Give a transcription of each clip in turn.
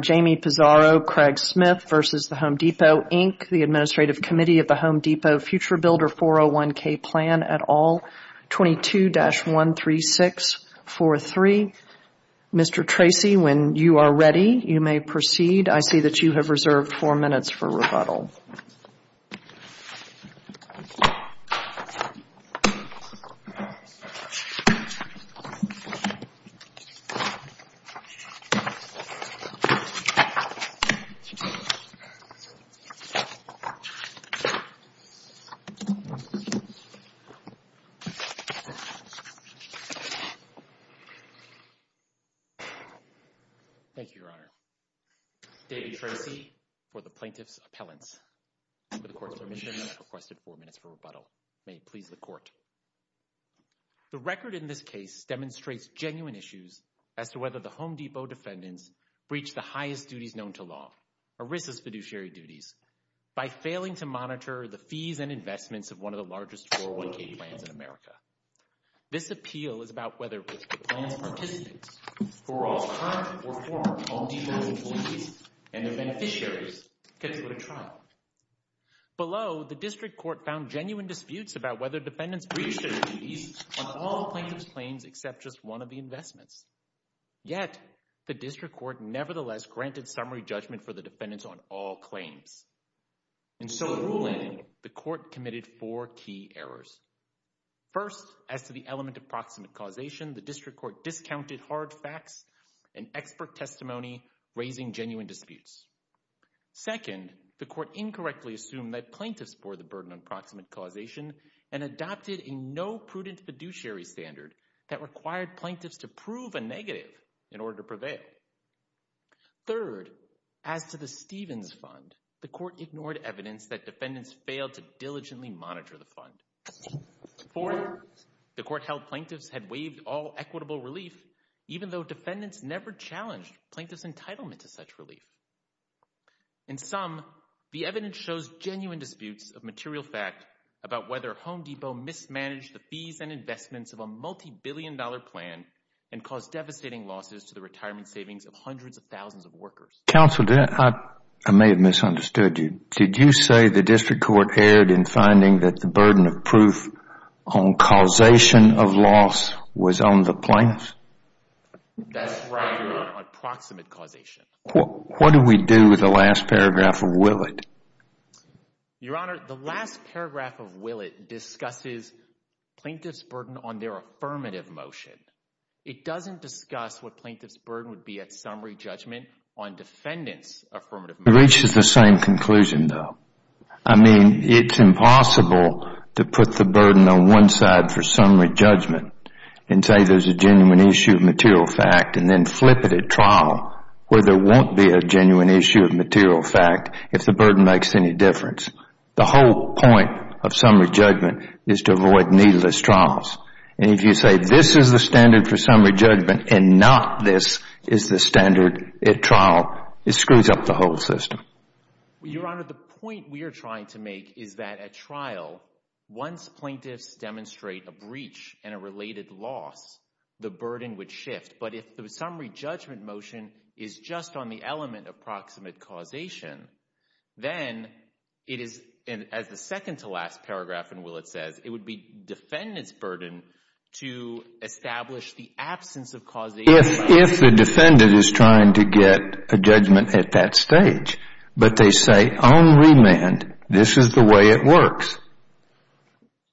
Jamie Pizarro, Craig Smith v. The Home Depot, Inc., the Administrative Committee of the Home Depot Future Builder 401K Plan et al, 22-13643. Mr. Tracy, when you are ready, you may proceed. I see that you have reserved four minutes for rebuttal. Thank you, Your Honor. David Tracy for the Plaintiff's Appellants. For the Court's permission, I have requested four minutes for rebuttal. May it please the Court. The record in this case demonstrates genuine issues as to whether the Home Depot defendants breached the highest duties known to law, ERISA's fiduciary duties, by failing to monitor the fees and investments of one of the largest 401K plans in America. This appeal is about whether ERISA plans participants who are all current or former Home Depot employees and their beneficiaries get to put a trial. Below, the District Court found genuine disputes about whether defendants breached their duties on all plaintiff's claims except just one of the investments. Yet, the District Court nevertheless granted summary judgment for the defendants on all claims. In so ruling, the Court committed four key errors. First, as to the element of proximate causation, the District Court discounted hard facts and expert testimony, raising genuine disputes. Second, the Court incorrectly assumed that plaintiffs bore the burden on proximate causation and adopted a no-prudent fiduciary standard that required plaintiffs to prove a negative in order to prevail. Third, as to the Stevens Fund, the Court ignored evidence that defendants failed to diligently monitor the fund. Fourth, the Court held plaintiffs had waived all equitable relief, even though defendants never challenged plaintiffs' entitlement to such relief. In sum, the evidence shows genuine disputes of material fact about whether Home Depot mismanaged the fees and investments of a multi-billion dollar plan and caused devastating losses to the retirement savings of hundreds of thousands of workers. Counsel, I may have misunderstood you. Did you say the District Court erred in finding that the burden of proof on causation of loss was on the plaintiffs? That's right, Your Honor, on proximate causation. What do we do with the last paragraph of Willett? Your Honor, the last paragraph of Willett discusses plaintiffs' burden on their affirmative motion. It doesn't discuss what plaintiffs' burden would be at summary judgment on defendants' affirmative motion. It reaches the same conclusion, though. I mean, it's impossible to put the burden on one side for summary judgment and say there's a genuine issue of material fact and then flip it at trial where there won't be a genuine issue of material fact if the burden makes any difference. The whole point of summary judgment is to avoid needless trials. And if you say this is the standard for summary judgment and not this is the standard at trial, it screws up the whole system. Your Honor, the point we are trying to make is that at trial, once plaintiffs demonstrate a breach and a related loss, the burden would shift. But if the summary judgment motion is just on the element of proximate causation, then it is, as the second to last paragraph in Willett says, it would be defendants' burden to establish the absence of causation. If the defendant is trying to get a judgment at that stage, but they say on remand, this is the way it works.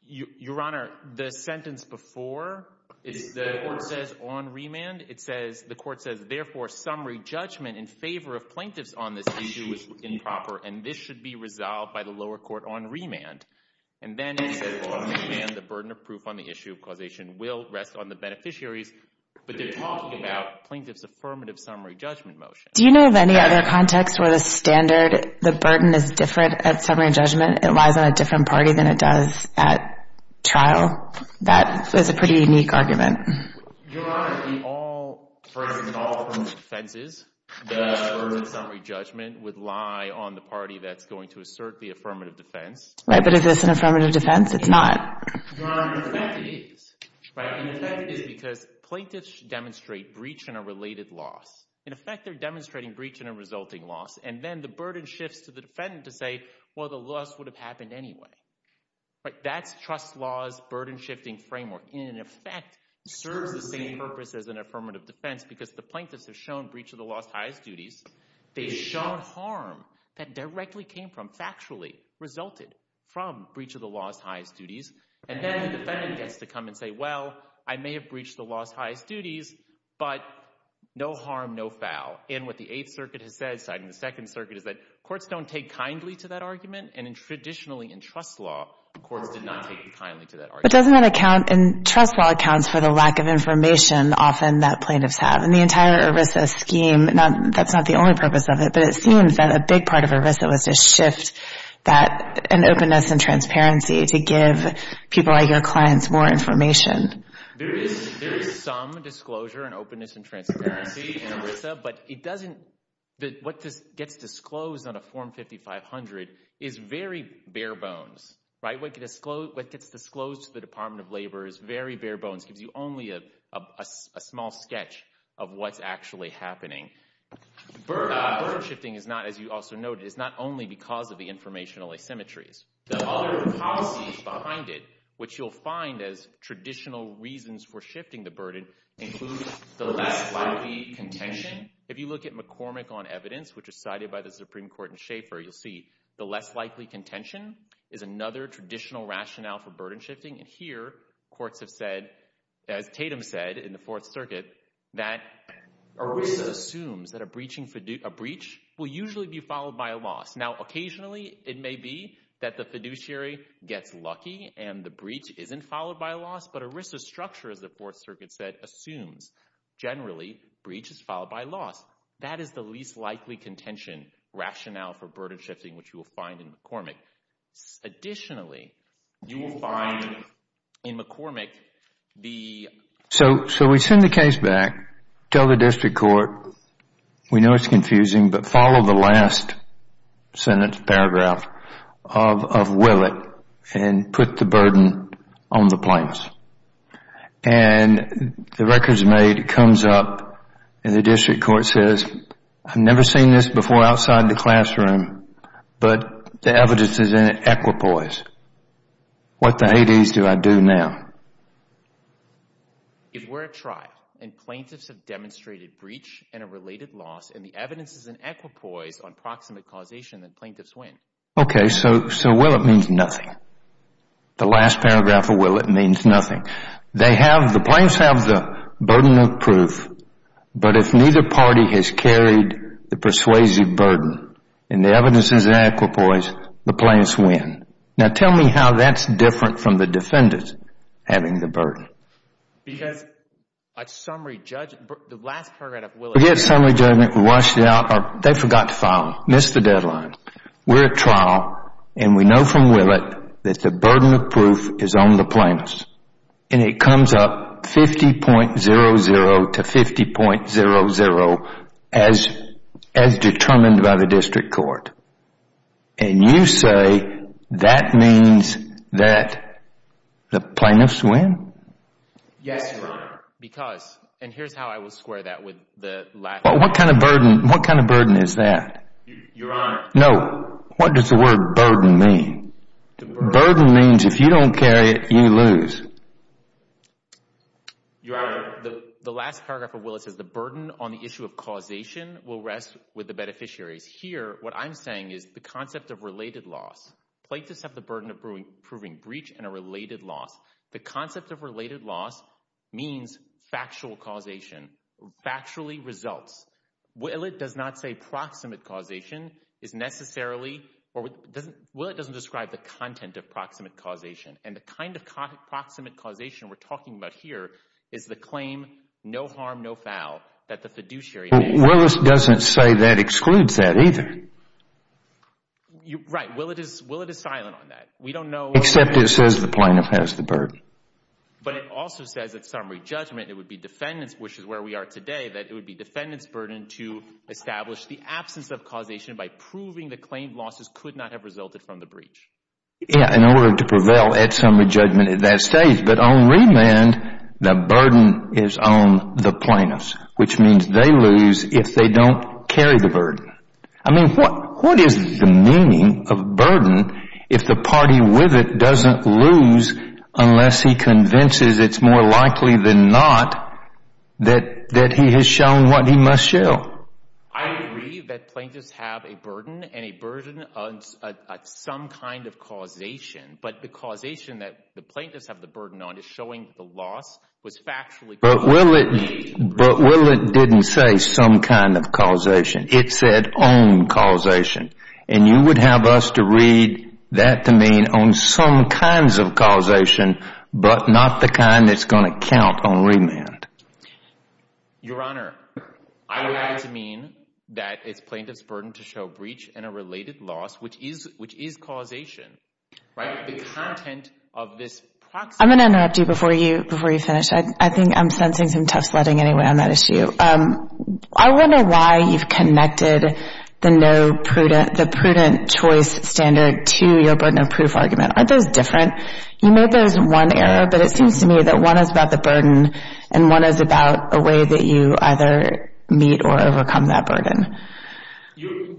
Your Honor, the sentence before, the court says on remand, it says, the court says, therefore, summary judgment in favor of plaintiffs on this issue is improper. And this should be resolved by the lower court on remand. And then it says, on remand, the burden of proof on the issue of causation will rest on the beneficiaries. But they're talking about plaintiffs' affirmative summary judgment motion. Do you know of any other context where the standard, the burden, is different at summary judgment? It lies on a different party than it does at trial? That is a pretty unique argument. Your Honor, we all, for instance, all affirmative defenses, the burden of summary judgment would lie on the party that's going to assert the affirmative defense. Right, but is this an affirmative defense? It's not. Your Honor, in effect, it is, right? In effect, it is because plaintiffs should demonstrate breach and a related loss. In effect, they're demonstrating breach and a resulting loss. And then the burden shifts to the defendant to say, well, the loss would have happened anyway. That's trust law's burden shifting framework. In effect, it serves the same purpose as an affirmative defense because the plaintiffs have shown breach of the law's highest duties. They've shown harm that directly came from, factually, resulted from breach of the law's highest duties. And then the defendant gets to come and say, well, I may have breached the law's highest duties, but no harm, no foul. And what the Eighth Circuit has said, citing the Second Circuit, is that courts don't take kindly to that argument. And traditionally, in trust law, courts did not take kindly to that argument. But doesn't that account, and trust law accounts for the lack of information often that plaintiffs have. And the entire ERISA scheme, that's not the only purpose of it, but it seems that a big part of ERISA was to shift that, an openness and transparency to give people like your clients more information. There is some disclosure and openness and transparency in ERISA, but it doesn't, what gets disclosed on a Form 5500 is very bare bones, right? What gets disclosed to the Department of Labor is very bare bones, gives you only a small sketch of what's actually happening. Burden shifting is not, as you also noted, is not only because of the informational asymmetries. The other policies behind it, which you'll find as traditional reasons for shifting the burden, includes the less likely contention. If you look at McCormick on evidence, which is cited by the Supreme Court in Schaeffer, you'll see the less likely contention is another traditional rationale for burden shifting. And here, courts have said, as Tatum said in the Fourth Circuit, that ERISA assumes that a breach will usually be followed by a loss. Now, occasionally, it may be that the fiduciary gets lucky and the breach isn't followed by a loss, but ERISA's structure, as the Fourth Circuit said, assumes generally breach is followed by loss. That is the least likely contention rationale for burden shifting, which you will find in McCormick. Additionally, you will find in McCormick the... So we send the case back, tell the district court, we know it's confusing, but follow the last sentence, paragraph of Willett and put the burden on the plaintiffs. And the record is made, it comes up, and the district court says, I've never seen this before outside the classroom, but the evidence is in equipoise. What the hades do I do now? If we're a tribe and plaintiffs have demonstrated breach and a related loss and the evidence is in equipoise on proximate causation, then plaintiffs win. Okay, so Willett means nothing. The last paragraph of Willett means nothing. The plaintiffs have the burden of proof, but if neither party has carried the persuasive burden and the evidence is in equipoise, the plaintiffs win. Now, tell me how that's different from the defendant having the burden. Because a summary judgment... The last paragraph of Willett... We get a summary judgment, we wash it out, they forgot to file, missed the deadline. We're at trial and we know from Willett that the burden of proof is on the plaintiffs. And it comes up 50.00 to 50.00 as determined by the district court. And you say that means that the plaintiffs win? Yes, Your Honor, because... And here's how I would square that with the last... What kind of burden is that? Your Honor... No, what does the word burden mean? Burden means if you don't carry it, you lose. Your Honor, the last paragraph of Willett says the burden on the issue of causation will rest with the beneficiaries. Here, what I'm saying is the concept of related loss. Plaintiffs have the burden of proving breach and a related loss. The concept of related loss means factual causation, factually results. Willett does not say proximate causation is necessarily... Or Willett doesn't describe the content of proximate causation. And the kind of proximate causation we're talking about here is the claim, no harm, no foul, that the fiduciary... Willett doesn't say that excludes that either. Right, Willett is silent on that. We don't know... Except it says the plaintiff has the burden. But it also says at summary judgment, it would be defendant's, which is where we are today, that it would be defendant's burden to establish the absence of causation by proving the claim losses could not have resulted from the breach. Yeah, in order to prevail at summary judgment at that stage. But on remand, the burden is on the plaintiffs, which means they lose if they don't carry the burden. I mean, what is the meaning of burden if the party with it doesn't lose unless he convinces it's more likely than not that he has shown what he must show? I agree that plaintiffs have a burden and a burden on some kind of causation. But the causation that the plaintiffs have the burden on is showing the loss was factually... But Willett didn't say some kind of causation. It said own causation. And you would have us to read that to mean on some kinds of causation, but not the kind that's going to count on remand. Your Honor, I would like to mean that it's plaintiff's burden to show breach and a related loss, which is causation. Right? The content of this proxy... I'm going to interrupt you before you finish. I think I'm sensing some tough sledding anyway on that issue. I wonder why you've connected the prudent choice standard to your burden of proof argument. Aren't those different? You made those in one area, but it seems to me that one is about the burden and one is about a way that you either meet or overcome that burden.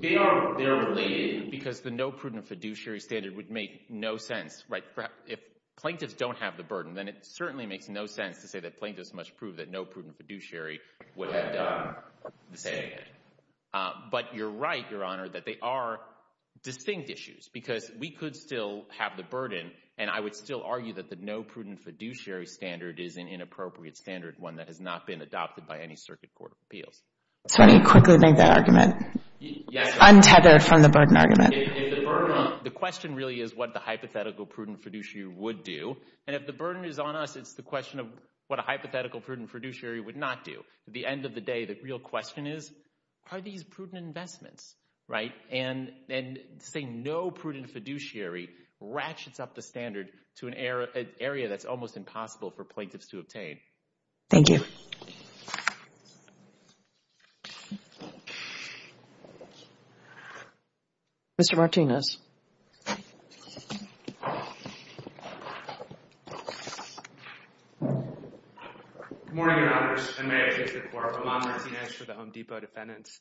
They're related because the no prudent fiduciary standard would make no sense, right? If plaintiffs don't have the burden, then it certainly makes no sense to say that plaintiffs must prove that no prudent fiduciary would have done the same thing. But you're right, Your Honor, that they are distinct issues because we could still have the burden and I would still argue that the no prudent fiduciary standard is an inappropriate standard, one that has not been adopted by any circuit court of appeals. So let me quickly make that argument. Untethered from the burden argument. The question really is what the hypothetical prudent fiduciary would do. And if the burden is on us, it's the question of what a hypothetical prudent fiduciary would not do. At the end of the day, the real question is, are these prudent investments, right? And saying no prudent fiduciary ratchets up the standard to an area that's almost impossible for plaintiffs to obtain. Thank you. Mr. Martinez. Good morning, Your Honors. And may it please the Court, I'm Alan Martinez for the Home Depot defendants.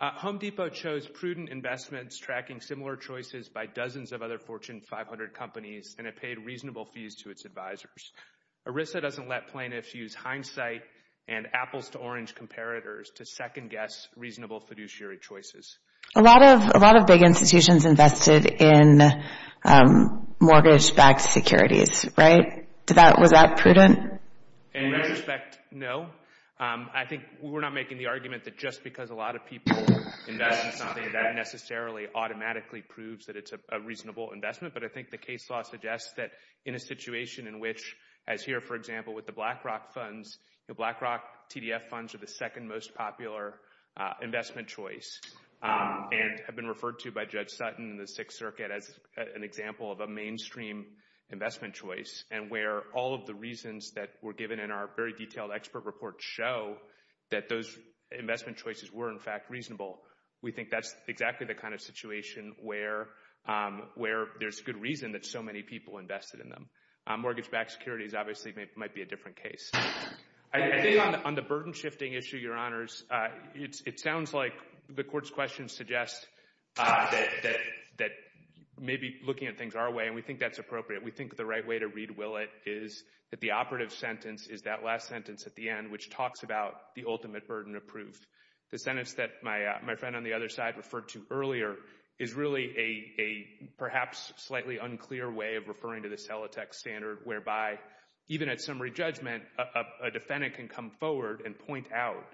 Home Depot chose prudent investments tracking similar choices by dozens of other Fortune 500 companies and it paid reasonable fees to its advisors. ERISA doesn't let plaintiffs use hindsight and apples to orange comparators to second guess reasonable fiduciary choices. A lot of big institutions invested in mortgage-backed securities, right? Was that prudent? In retrospect, no. I think we're not making the argument that just because a lot of people invest in something that necessarily automatically proves that it's a reasonable investment. But I think the case law suggests that in a situation in which, as here, for example, with the BlackRock funds, BlackRock TDF funds are the second most popular investment choice and have been referred to by Judge Sutton in the Sixth Circuit as an example of a mainstream investment choice. And where all of the reasons that were given in our very detailed expert report show that those investment choices were, in fact, reasonable. We think that's exactly the kind of situation where there's good reason that so many people invested in them. Mortgage-backed securities, obviously, might be a different case. I think on the burden-shifting issue, Your Honors, it sounds like the Court's questions suggest that maybe looking at things our way, and we think that's appropriate, we think the right way to read Willett is that the operative sentence is that last sentence at the end, which talks about the ultimate burden of proof. The sentence that my friend on the other side referred to earlier is really a perhaps slightly unclear way of referring to the Celotex standard, whereby even at summary judgment, a defendant can come forward and point out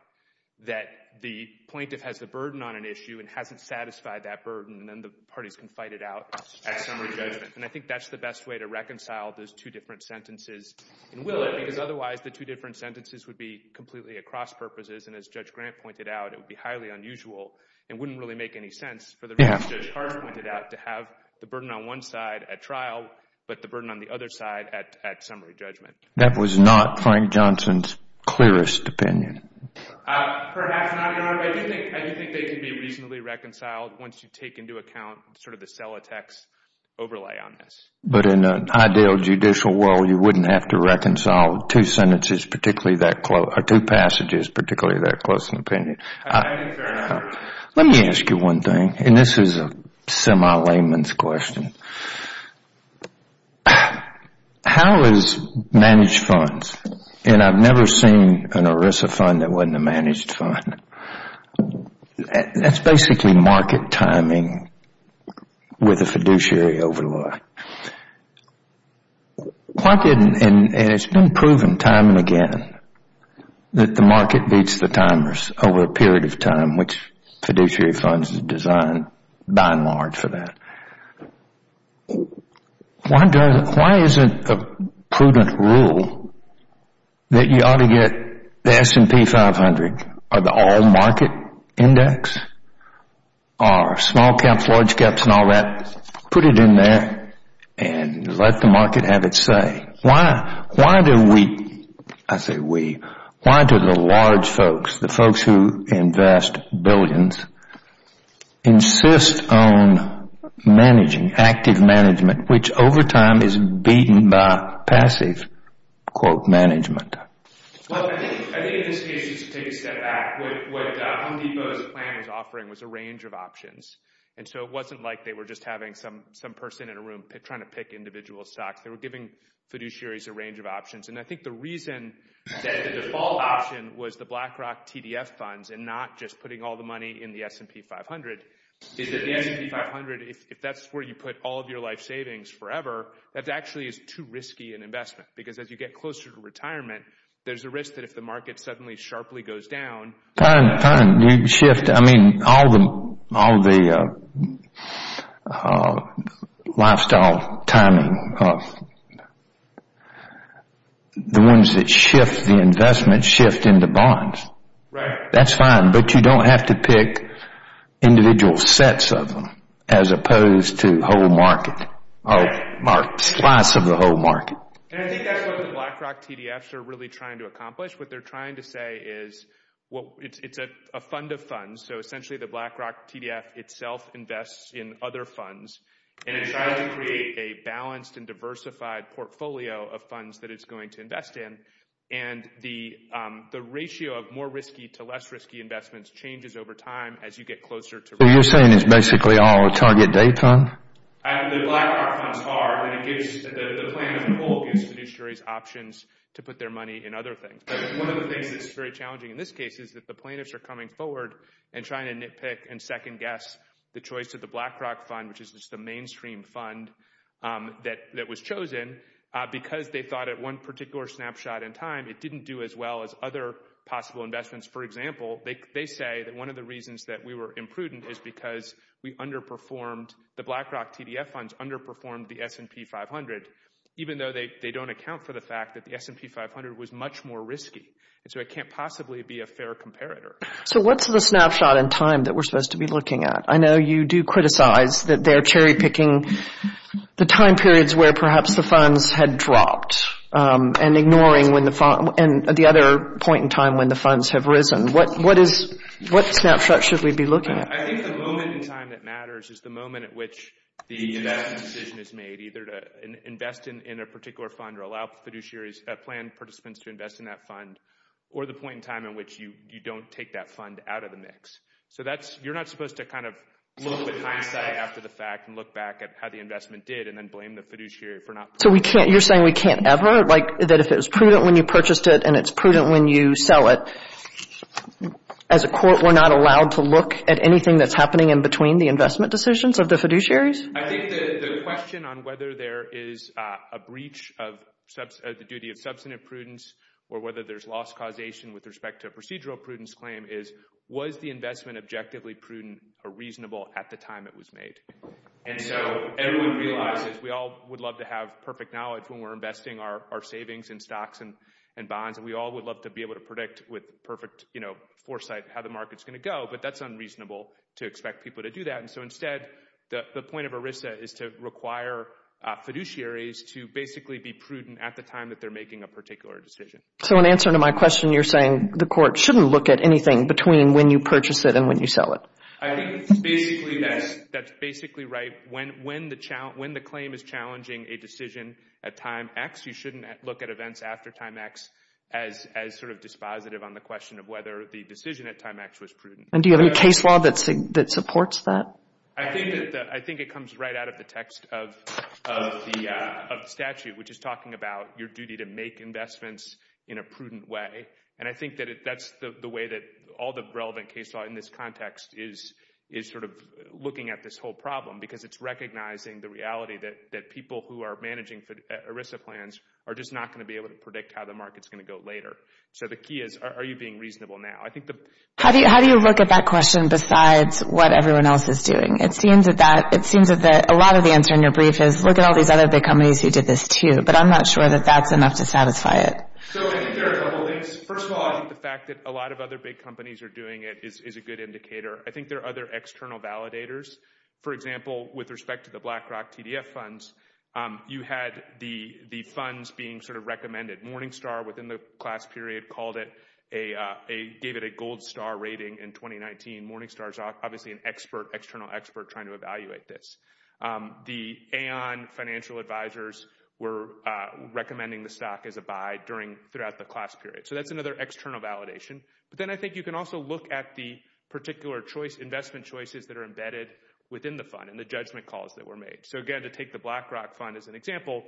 that the plaintiff has the burden on an issue and hasn't satisfied that burden, and then the parties can fight it out at summary judgment. And I think that's the best way to reconcile those two different sentences in Willett, because otherwise the two different sentences would be completely at cross-purposes, and as Judge Grant pointed out, it would be highly unusual and wouldn't really make any sense for the reason Judge Hart pointed out, to have the burden on one side at trial, but the burden on the other side at summary judgment. That was not Frank Johnson's clearest opinion. Perhaps not, Your Honor. I do think they can be reasonably reconciled once you take into account sort of the Celotex overlay on this. But in an ideal judicial world, you wouldn't have to reconcile two sentences particularly that close, or two passages particularly that close in opinion. I don't think there are any. Let me ask you one thing, and this is a semi-layman's question. How is managed funds, and I've never seen an ERISA fund that wasn't a managed fund, that's basically market timing with a fiduciary overlay. Why didn't, and it's been proven time and again, that the market beats the timers over a period of time, which fiduciary funds is designed by and large for that. Why isn't a prudent rule that you ought to get the S&P 500, or the all market index, or small caps, large caps, and all that, put it in there and let the market have its say? Why? Why do we, I say we, why do the large folks, the folks who invest billions, insist on managing, active management, which over time is beaten by passive, quote, management? Well, I think in this case you should take a step back. What Home Depot's plan was offering was a range of options. And so it wasn't like they were just having some person in a room trying to pick individual stocks. They were giving fiduciaries a range of options. And I think the reason that the default option was the BlackRock TDF funds and not just putting all the money in the S&P 500, is that the S&P 500, if that's where you put all of your life savings forever, that actually is too risky an investment. Because as you get closer to retirement, there's a risk that if the market suddenly sharply goes down. Fine, fine, you shift. I mean, all the lifestyle timing, the ones that shift the investment shift into bonds. Right. That's fine. But you don't have to pick individual sets of them as opposed to whole market, slice of the whole market. And I think that's what the BlackRock TDFs are really trying to accomplish. What they're trying to say is, well, it's a fund of funds. So essentially the BlackRock TDF itself invests in other funds and it tries to create a balanced and diversified portfolio of funds that it's going to invest in. And the ratio of more risky to less risky investments changes over time as you get closer to retirement. So you're saying it's basically all a target day fund? The BlackRock fund's hard. The plaintiff pool gives fiduciaries options to put their money in other things. But one of the things that's very challenging in this case is that the plaintiffs are coming forward and trying to nitpick and second guess the choice of the BlackRock fund, which is just the mainstream fund that was chosen because they thought at one particular snapshot in time it didn't do as well as other possible investments. For example, they say that one of the reasons that we were imprudent is because we underperformed, the BlackRock TDF funds underperformed the S&P 500 even though they don't account for the fact that the S&P 500 was much more risky. And so it can't possibly be a fair comparator. So what's the snapshot in time that we're supposed to be looking at? I know you do criticize that they're cherry picking the time periods where perhaps the funds had dropped and ignoring the other point in time when the funds have risen. What snapshot should we be looking at? I think the moment in time that matters is the moment at which the investment decision is made, either to invest in a particular fund or allow fiduciaries, plan participants to invest in that fund, or the point in time in which you don't take that fund out of the mix. So you're not supposed to kind of look with hindsight after the fact and look back at how the investment did and then blame the fiduciary for not... So you're saying we can't ever? Like that if it was prudent when you purchased it and it's prudent when you sell it, as a court, we're not allowed to look at anything that's happening in between the investment decisions of the fiduciaries? I think the question on whether there is a breach of the duty of substantive prudence or whether there's loss causation with respect to a procedural prudence claim is was the investment objectively prudent or reasonable at the time it was made. And so everyone realizes, we all would love to have perfect knowledge when we're investing our savings in stocks and bonds and we all would love to be able to predict with perfect foresight how the market's going to go, but that's unreasonable to expect people to do that. And so instead, the point of ERISA is to require fiduciaries to basically be prudent at the time that they're making a particular decision. So in answer to my question, you're saying the court shouldn't look at anything between when you purchase it and when you sell it? I think that's basically right. When the claim is challenging a decision at time X, you shouldn't look at events after time X as sort of dispositive on the question of whether the decision at time X was prudent. And do you have any case law that supports that? I think it comes right out of the text of the statute, which is talking about your duty to make investments in a prudent way. And I think that that's the way that all the relevant case law in this context is sort of looking at this whole problem because it's recognizing the reality that people who are managing ERISA plans are just not going to be able to predict how the market's going to go later. So the key is, are you being reasonable now? How do you look at that question besides what everyone else is doing? It seems that a lot of the answer in your brief is look at all these other big companies who did this too, but I'm not sure that that's enough to satisfy it. So I think there are a couple of things. First of all, I think the fact that a lot of other big companies are doing it is a good indicator. I think there are other external validators. For example, with respect to the BlackRock TDF funds, you had the funds being sort of recommended. Morningstar within the class period gave it a gold star rating in 2019. Morningstar is obviously an external expert trying to evaluate this. The Aon Financial Advisors were recommending the stock as a buy throughout the class period. So that's another external validation. But then I think you can also look at the particular investment choices that are embedded within the fund and the judgment calls that were made. So again, to take the BlackRock fund as an example,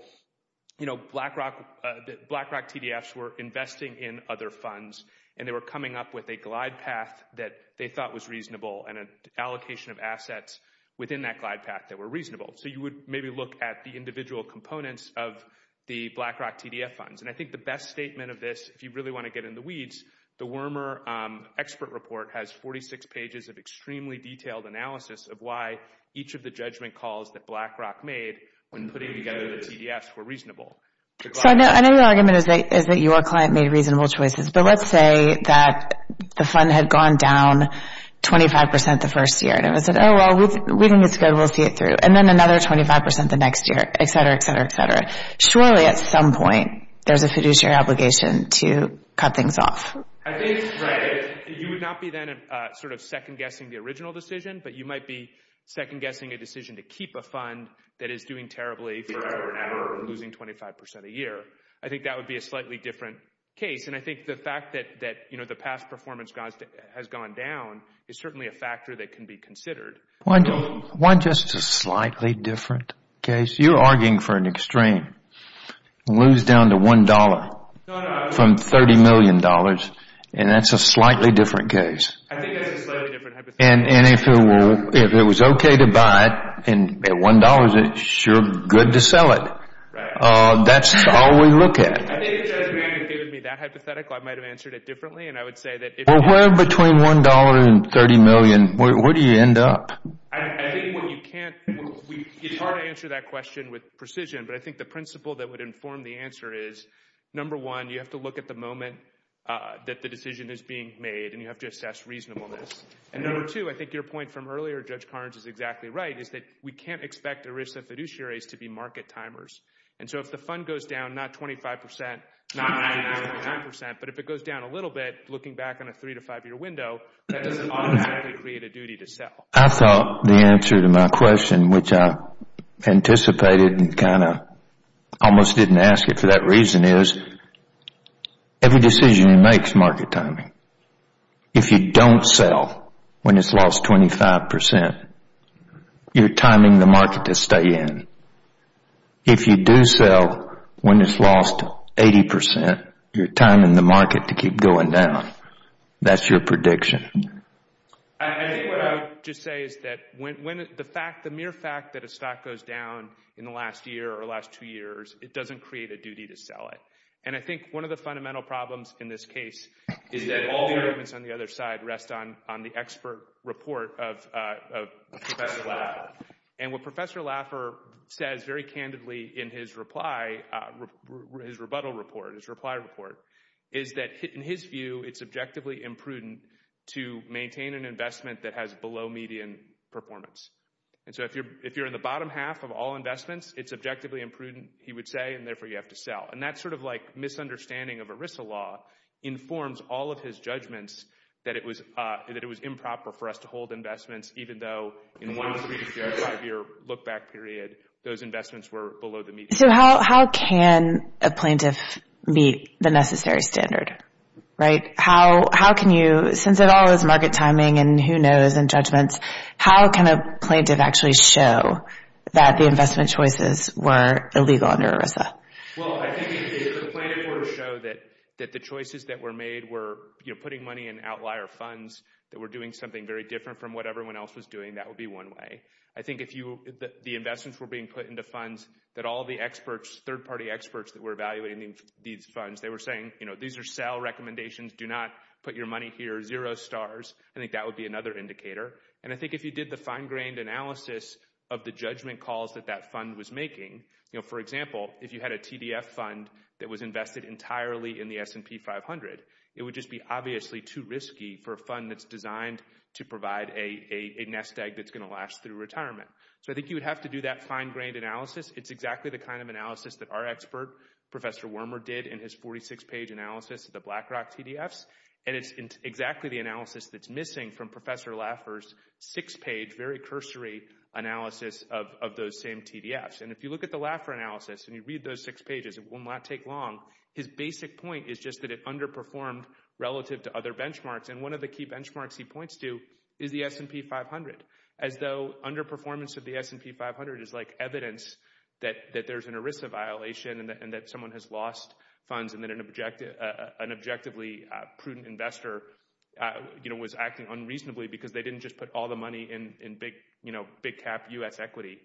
BlackRock TDFs were investing in other funds and they were coming up with a glide path that they thought was reasonable and an allocation of assets within that glide path that were reasonable. So you would maybe look at the individual components of the BlackRock TDF funds. And I think the best statement of this, if you really want to get in the weeds, the Wormer Expert Report has 46 pages of extremely detailed analysis of why each of the judgment calls that BlackRock made when putting together the TDFs were reasonable. So I know the argument is that your client made reasonable choices, but let's say that the fund had gone down 25% the first year and it was like, oh, well, we think it's good, we'll see it through. And then another 25% the next year, et cetera, et cetera, et cetera. Surely at some point there's a fiduciary obligation to cut things off. I think you would not be then sort of second-guessing the original decision, but you might be second-guessing a decision to keep a fund that is doing terribly forever and ever and losing 25% a year. I think that would be a slightly different case. And I think the fact that the past performance has gone down is certainly a factor that can be considered. Why just a slightly different case? You're arguing for an extreme, lose down to $1. From $30 million. And that's a slightly different case. And if it was okay to buy it, and at $1, it's sure good to sell it. That's all we look at. I think if you had given me that hypothetical, I might've answered it differently. And I would say that- Well, where between $1 and 30 million, where do you end up? I think what you can't, it's hard to answer that question with precision, but I think the principle that would inform the answer is, number one, you have to look at the moment that the decision is being made, and you have to assess reasonableness. And number two, I think your point from earlier, Judge Carnes, is exactly right, is that we can't expect the risk of fiduciaries to be market timers. And so if the fund goes down, not 25%, not 99%, but if it goes down a little bit, looking back on a three to five year window, that doesn't automatically create a duty to sell. I thought the answer to my question, which I anticipated and kind of almost didn't ask it for that reason, is every decision makes market timing. If you don't sell when it's lost 25%, you're timing the market to stay in. If you do sell when it's lost 80%, you're timing the market to keep going down. That's your prediction. I think what I would just say is that when the mere fact that a stock goes down in the last year or last two years, it doesn't create a duty to sell it. And I think one of the fundamental problems in this case is that all the arguments on the other side rest on the expert report of Professor Laffer. And what Professor Laffer says very candidly in his rebuttal report, his reply report, is that in his view, it's objectively imprudent to maintain an investment that has below median performance. And so if you're in the bottom half of all investments, it's objectively imprudent. He would say, and therefore you have to sell. And that's sort of like misunderstanding of ERISA law informs all of his judgments that it was improper for us to hold investments even though in one three to five year look back period, those investments were below the median. So how can a plaintiff meet the necessary standard, right? How can you, since it all is market timing and who knows and judgments, how can a plaintiff actually show that the investment choices were illegal under ERISA? Well, I think if the plaintiff were to show that the choices that were made were putting money in outlier funds that were doing something very different from what everyone else was doing, that would be one way. I think if the investments were being put into funds that all the experts, third party experts that were evaluating these funds, they were saying, these are sell recommendations, do not put your money here, zero stars. I think that would be another indicator. And I think if you did the fine grained analysis of the judgment calls that that fund was making, for example, if you had a TDF fund that was invested entirely in the S&P 500, it would just be obviously too risky for a fund that's designed to provide a nest egg that's gonna last through retirement. So I think you would have to do that fine grained analysis. It's exactly the kind of analysis that our expert, Professor Wormer did in his 46 page analysis of the BlackRock TDFs. And it's exactly the analysis that's missing from Professor Laffer's six page, very cursory analysis of those same TDFs. And if you look at the Laffer analysis and you read those six pages, it will not take long. His basic point is just that it underperformed relative to other benchmarks. And one of the key benchmarks he points to is the S&P 500, as though underperformance of the S&P 500 is like evidence that there's an ERISA violation and that someone has lost funds and that an objectively prudent investor was acting unreasonably because they didn't just put all the money in big cap U.S. equity,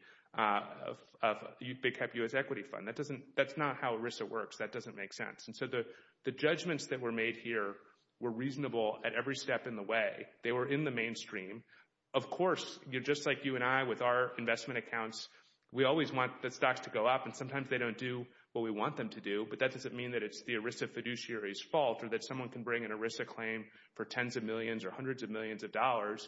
big cap U.S. equity fund. That's not how ERISA works. That doesn't make sense. And so the judgments that were made here were reasonable at every step in the way. They were in the mainstream. Of course, you're just like you and I with our investment accounts. We always want the stocks to go up and sometimes they don't do what we want them to do. But that doesn't mean that it's the ERISA fiduciary's fault or that someone can bring an ERISA claim for tens of millions or hundreds of millions of dollars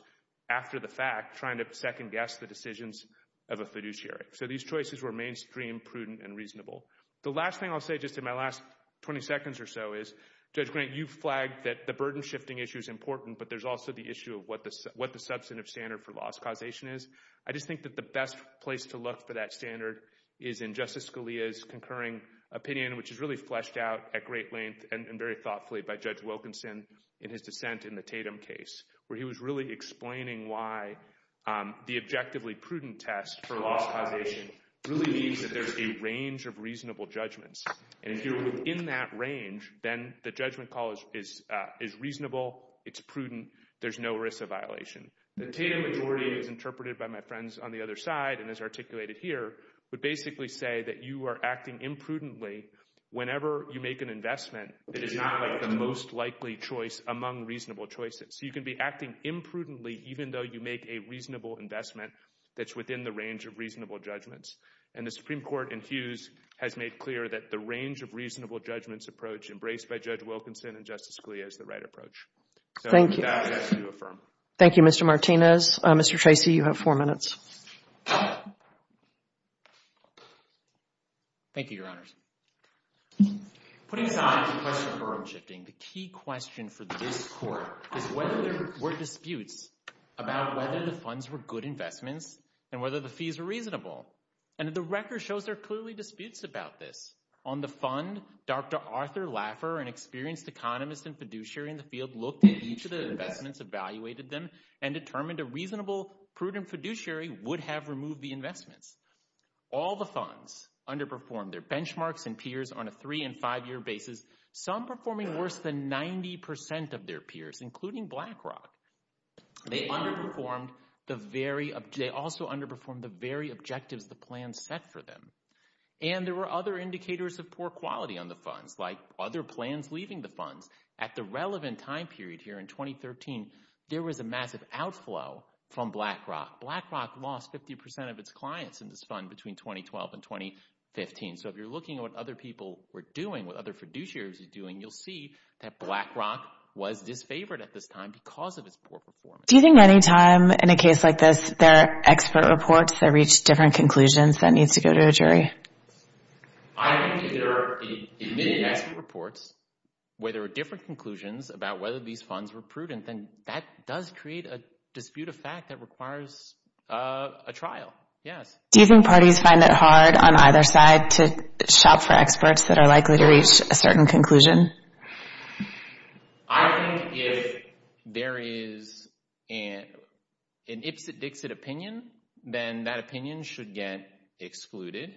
after the fact trying to second guess the decisions of a fiduciary. So these choices were mainstream, prudent, and reasonable. The last thing I'll say just in my last 20 seconds or so is Judge Grant, you flagged that the burden shifting issue is important, but there's also the issue of what the substantive standard for loss causation is. I just think that the best place to look for that standard is in Justice Scalia's concurring opinion, which is really fleshed out at great length and very thoughtfully by Judge Wilkinson in his dissent in the Tatum case, where he was really explaining why the objectively prudent test for loss causation really means that there's a range of reasonable judgments. And if you're within that range, then the judgment call is reasonable, it's prudent, there's no ERISA violation. The Tatum majority, as interpreted by my friends on the other side and as articulated here, would basically say that you are acting imprudently whenever you make an investment that is not like the most likely choice among reasonable choices. So you can be acting imprudently even though you make a reasonable investment that's within the range of reasonable judgments. And the Supreme Court in Hughes has made clear that the range of reasonable judgments approach embraced by Judge Wilkinson and Justice Scalia is the right approach. So with that, I ask you to affirm. Thank you, Mr. Martinez. Mr. Tracy, you have four minutes. Thank you, Your Honors. Putting aside the question of burden shifting, the key question for this Court is whether there were disputes about whether the funds were good investments and whether the fees were reasonable. And the record shows there are clearly disputes about this. On the fund, Dr. Arthur Laffer, an experienced economist and fiduciary in the field, looked at each of the investments, evaluated them, and determined a reasonable prudent fiduciary would have removed the investments. All the funds underperformed. Their benchmarks and peers on a three- and five-year basis, some performing worse than 90% of their peers, including BlackRock. They underperformed the very— they also underperformed the very objectives the plan set for them. And there were other indicators of poor quality on the funds, like other plans leaving the funds. At the relevant time period here in 2013, there was a massive outflow from BlackRock. BlackRock lost 50% of its clients in this fund between 2012 and 2015. So if you're looking at what other people were doing, what other fiduciaries were doing, you'll see that BlackRock was disfavored at this time because of its poor performance. Do you think any time in a case like this, there are expert reports that reach different conclusions that needs to go to a jury? I think if there are many expert reports where there are different conclusions about whether these funds were prudent, then that does create a dispute of fact that requires a trial, yes. Do you think parties find it hard on either side to shop for experts that are likely to reach a certain conclusion? I think if there is an Ipsit-Dixit opinion, then that opinion should get excluded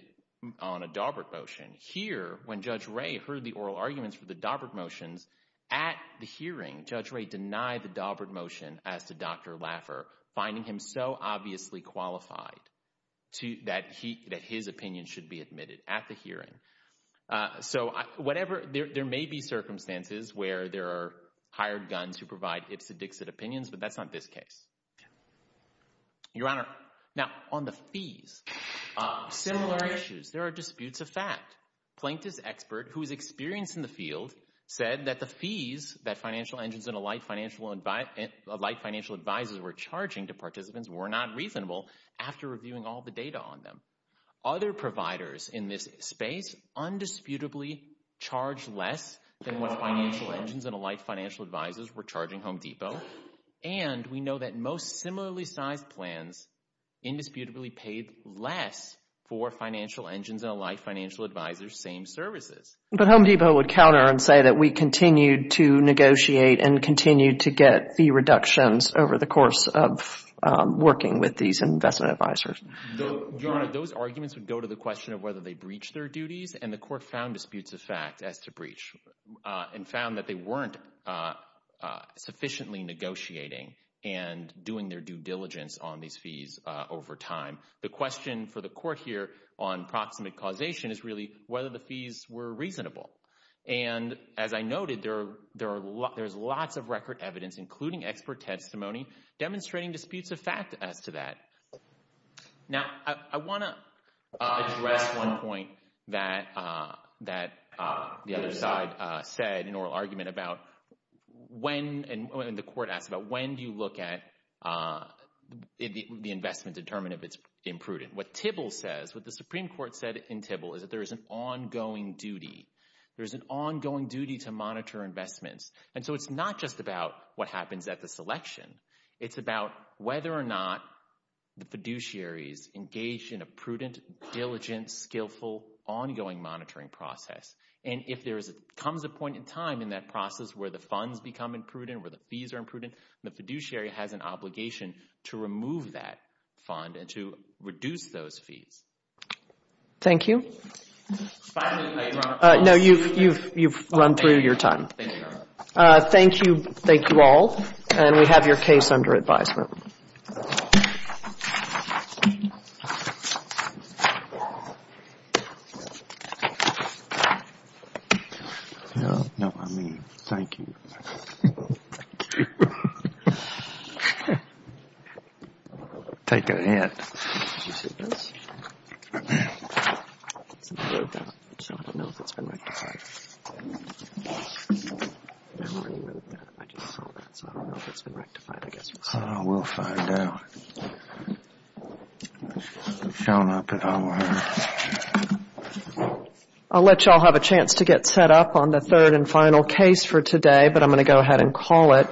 on a Daubert motion. Here, when Judge Ray heard the oral arguments for the Daubert motions, at the hearing, Judge Ray denied the Daubert motion as to Dr. Laffer, finding him so obviously qualified that his opinion should be admitted at the hearing. So whatever, there may be circumstances where there are hired guns who provide Ipsit-Dixit opinions, but that's not this case. Your Honor, now on the fees, similar issues, there are disputes of fact. Plaintiff's expert, who is experienced in the field, said that the fees that financial agents and alike financial advisors were charging to participants were not reasonable after reviewing all the data on them. Other providers in this space undisputably charged less than what financial agents and alike financial advisors were charging Home Depot. And we know that most similarly sized plans indisputably paid less for financial engines and alike financial advisors' same services. But Home Depot would counter and say that we continued to negotiate and continued to get fee reductions over the course of working with these investment advisors. Your Honor, those arguments would go to the question of whether they breached their duties, and the court found disputes of fact as to breach and found that they weren't sufficiently negotiating and doing their due diligence on these fees over time. The question for the court here on proximate causation is really whether the fees were reasonable. And as I noted, there's lots of record evidence, including expert testimony, demonstrating disputes of fact as to that. Now, I want to address one point that the other side said in oral argument about when, and the court asked about, when do you look at the investment to determine if it's imprudent? What TIBL says, what the Supreme Court said in TIBL is that there is an ongoing duty. There's an ongoing duty to monitor investments. And so it's not just about what happens at the selection. It's about whether or not the fiduciaries engage in a prudent, diligent, skillful, ongoing monitoring process. And if there comes a point in time in that process where the funds become imprudent, where the fees are imprudent, the fiduciary has an obligation to remove that fund and to reduce those fees. Thank you. No, you've run through your time. Thank you. Thank you all. And we have your case under advisement. No, no, I mean, thank you. Take a hint. I just saw that. So I don't know if it's been rectified, I guess. I don't know. We'll find out. I'll let you all have a chance to get set up on the third and final case for today, but I'm going to go ahead and call it.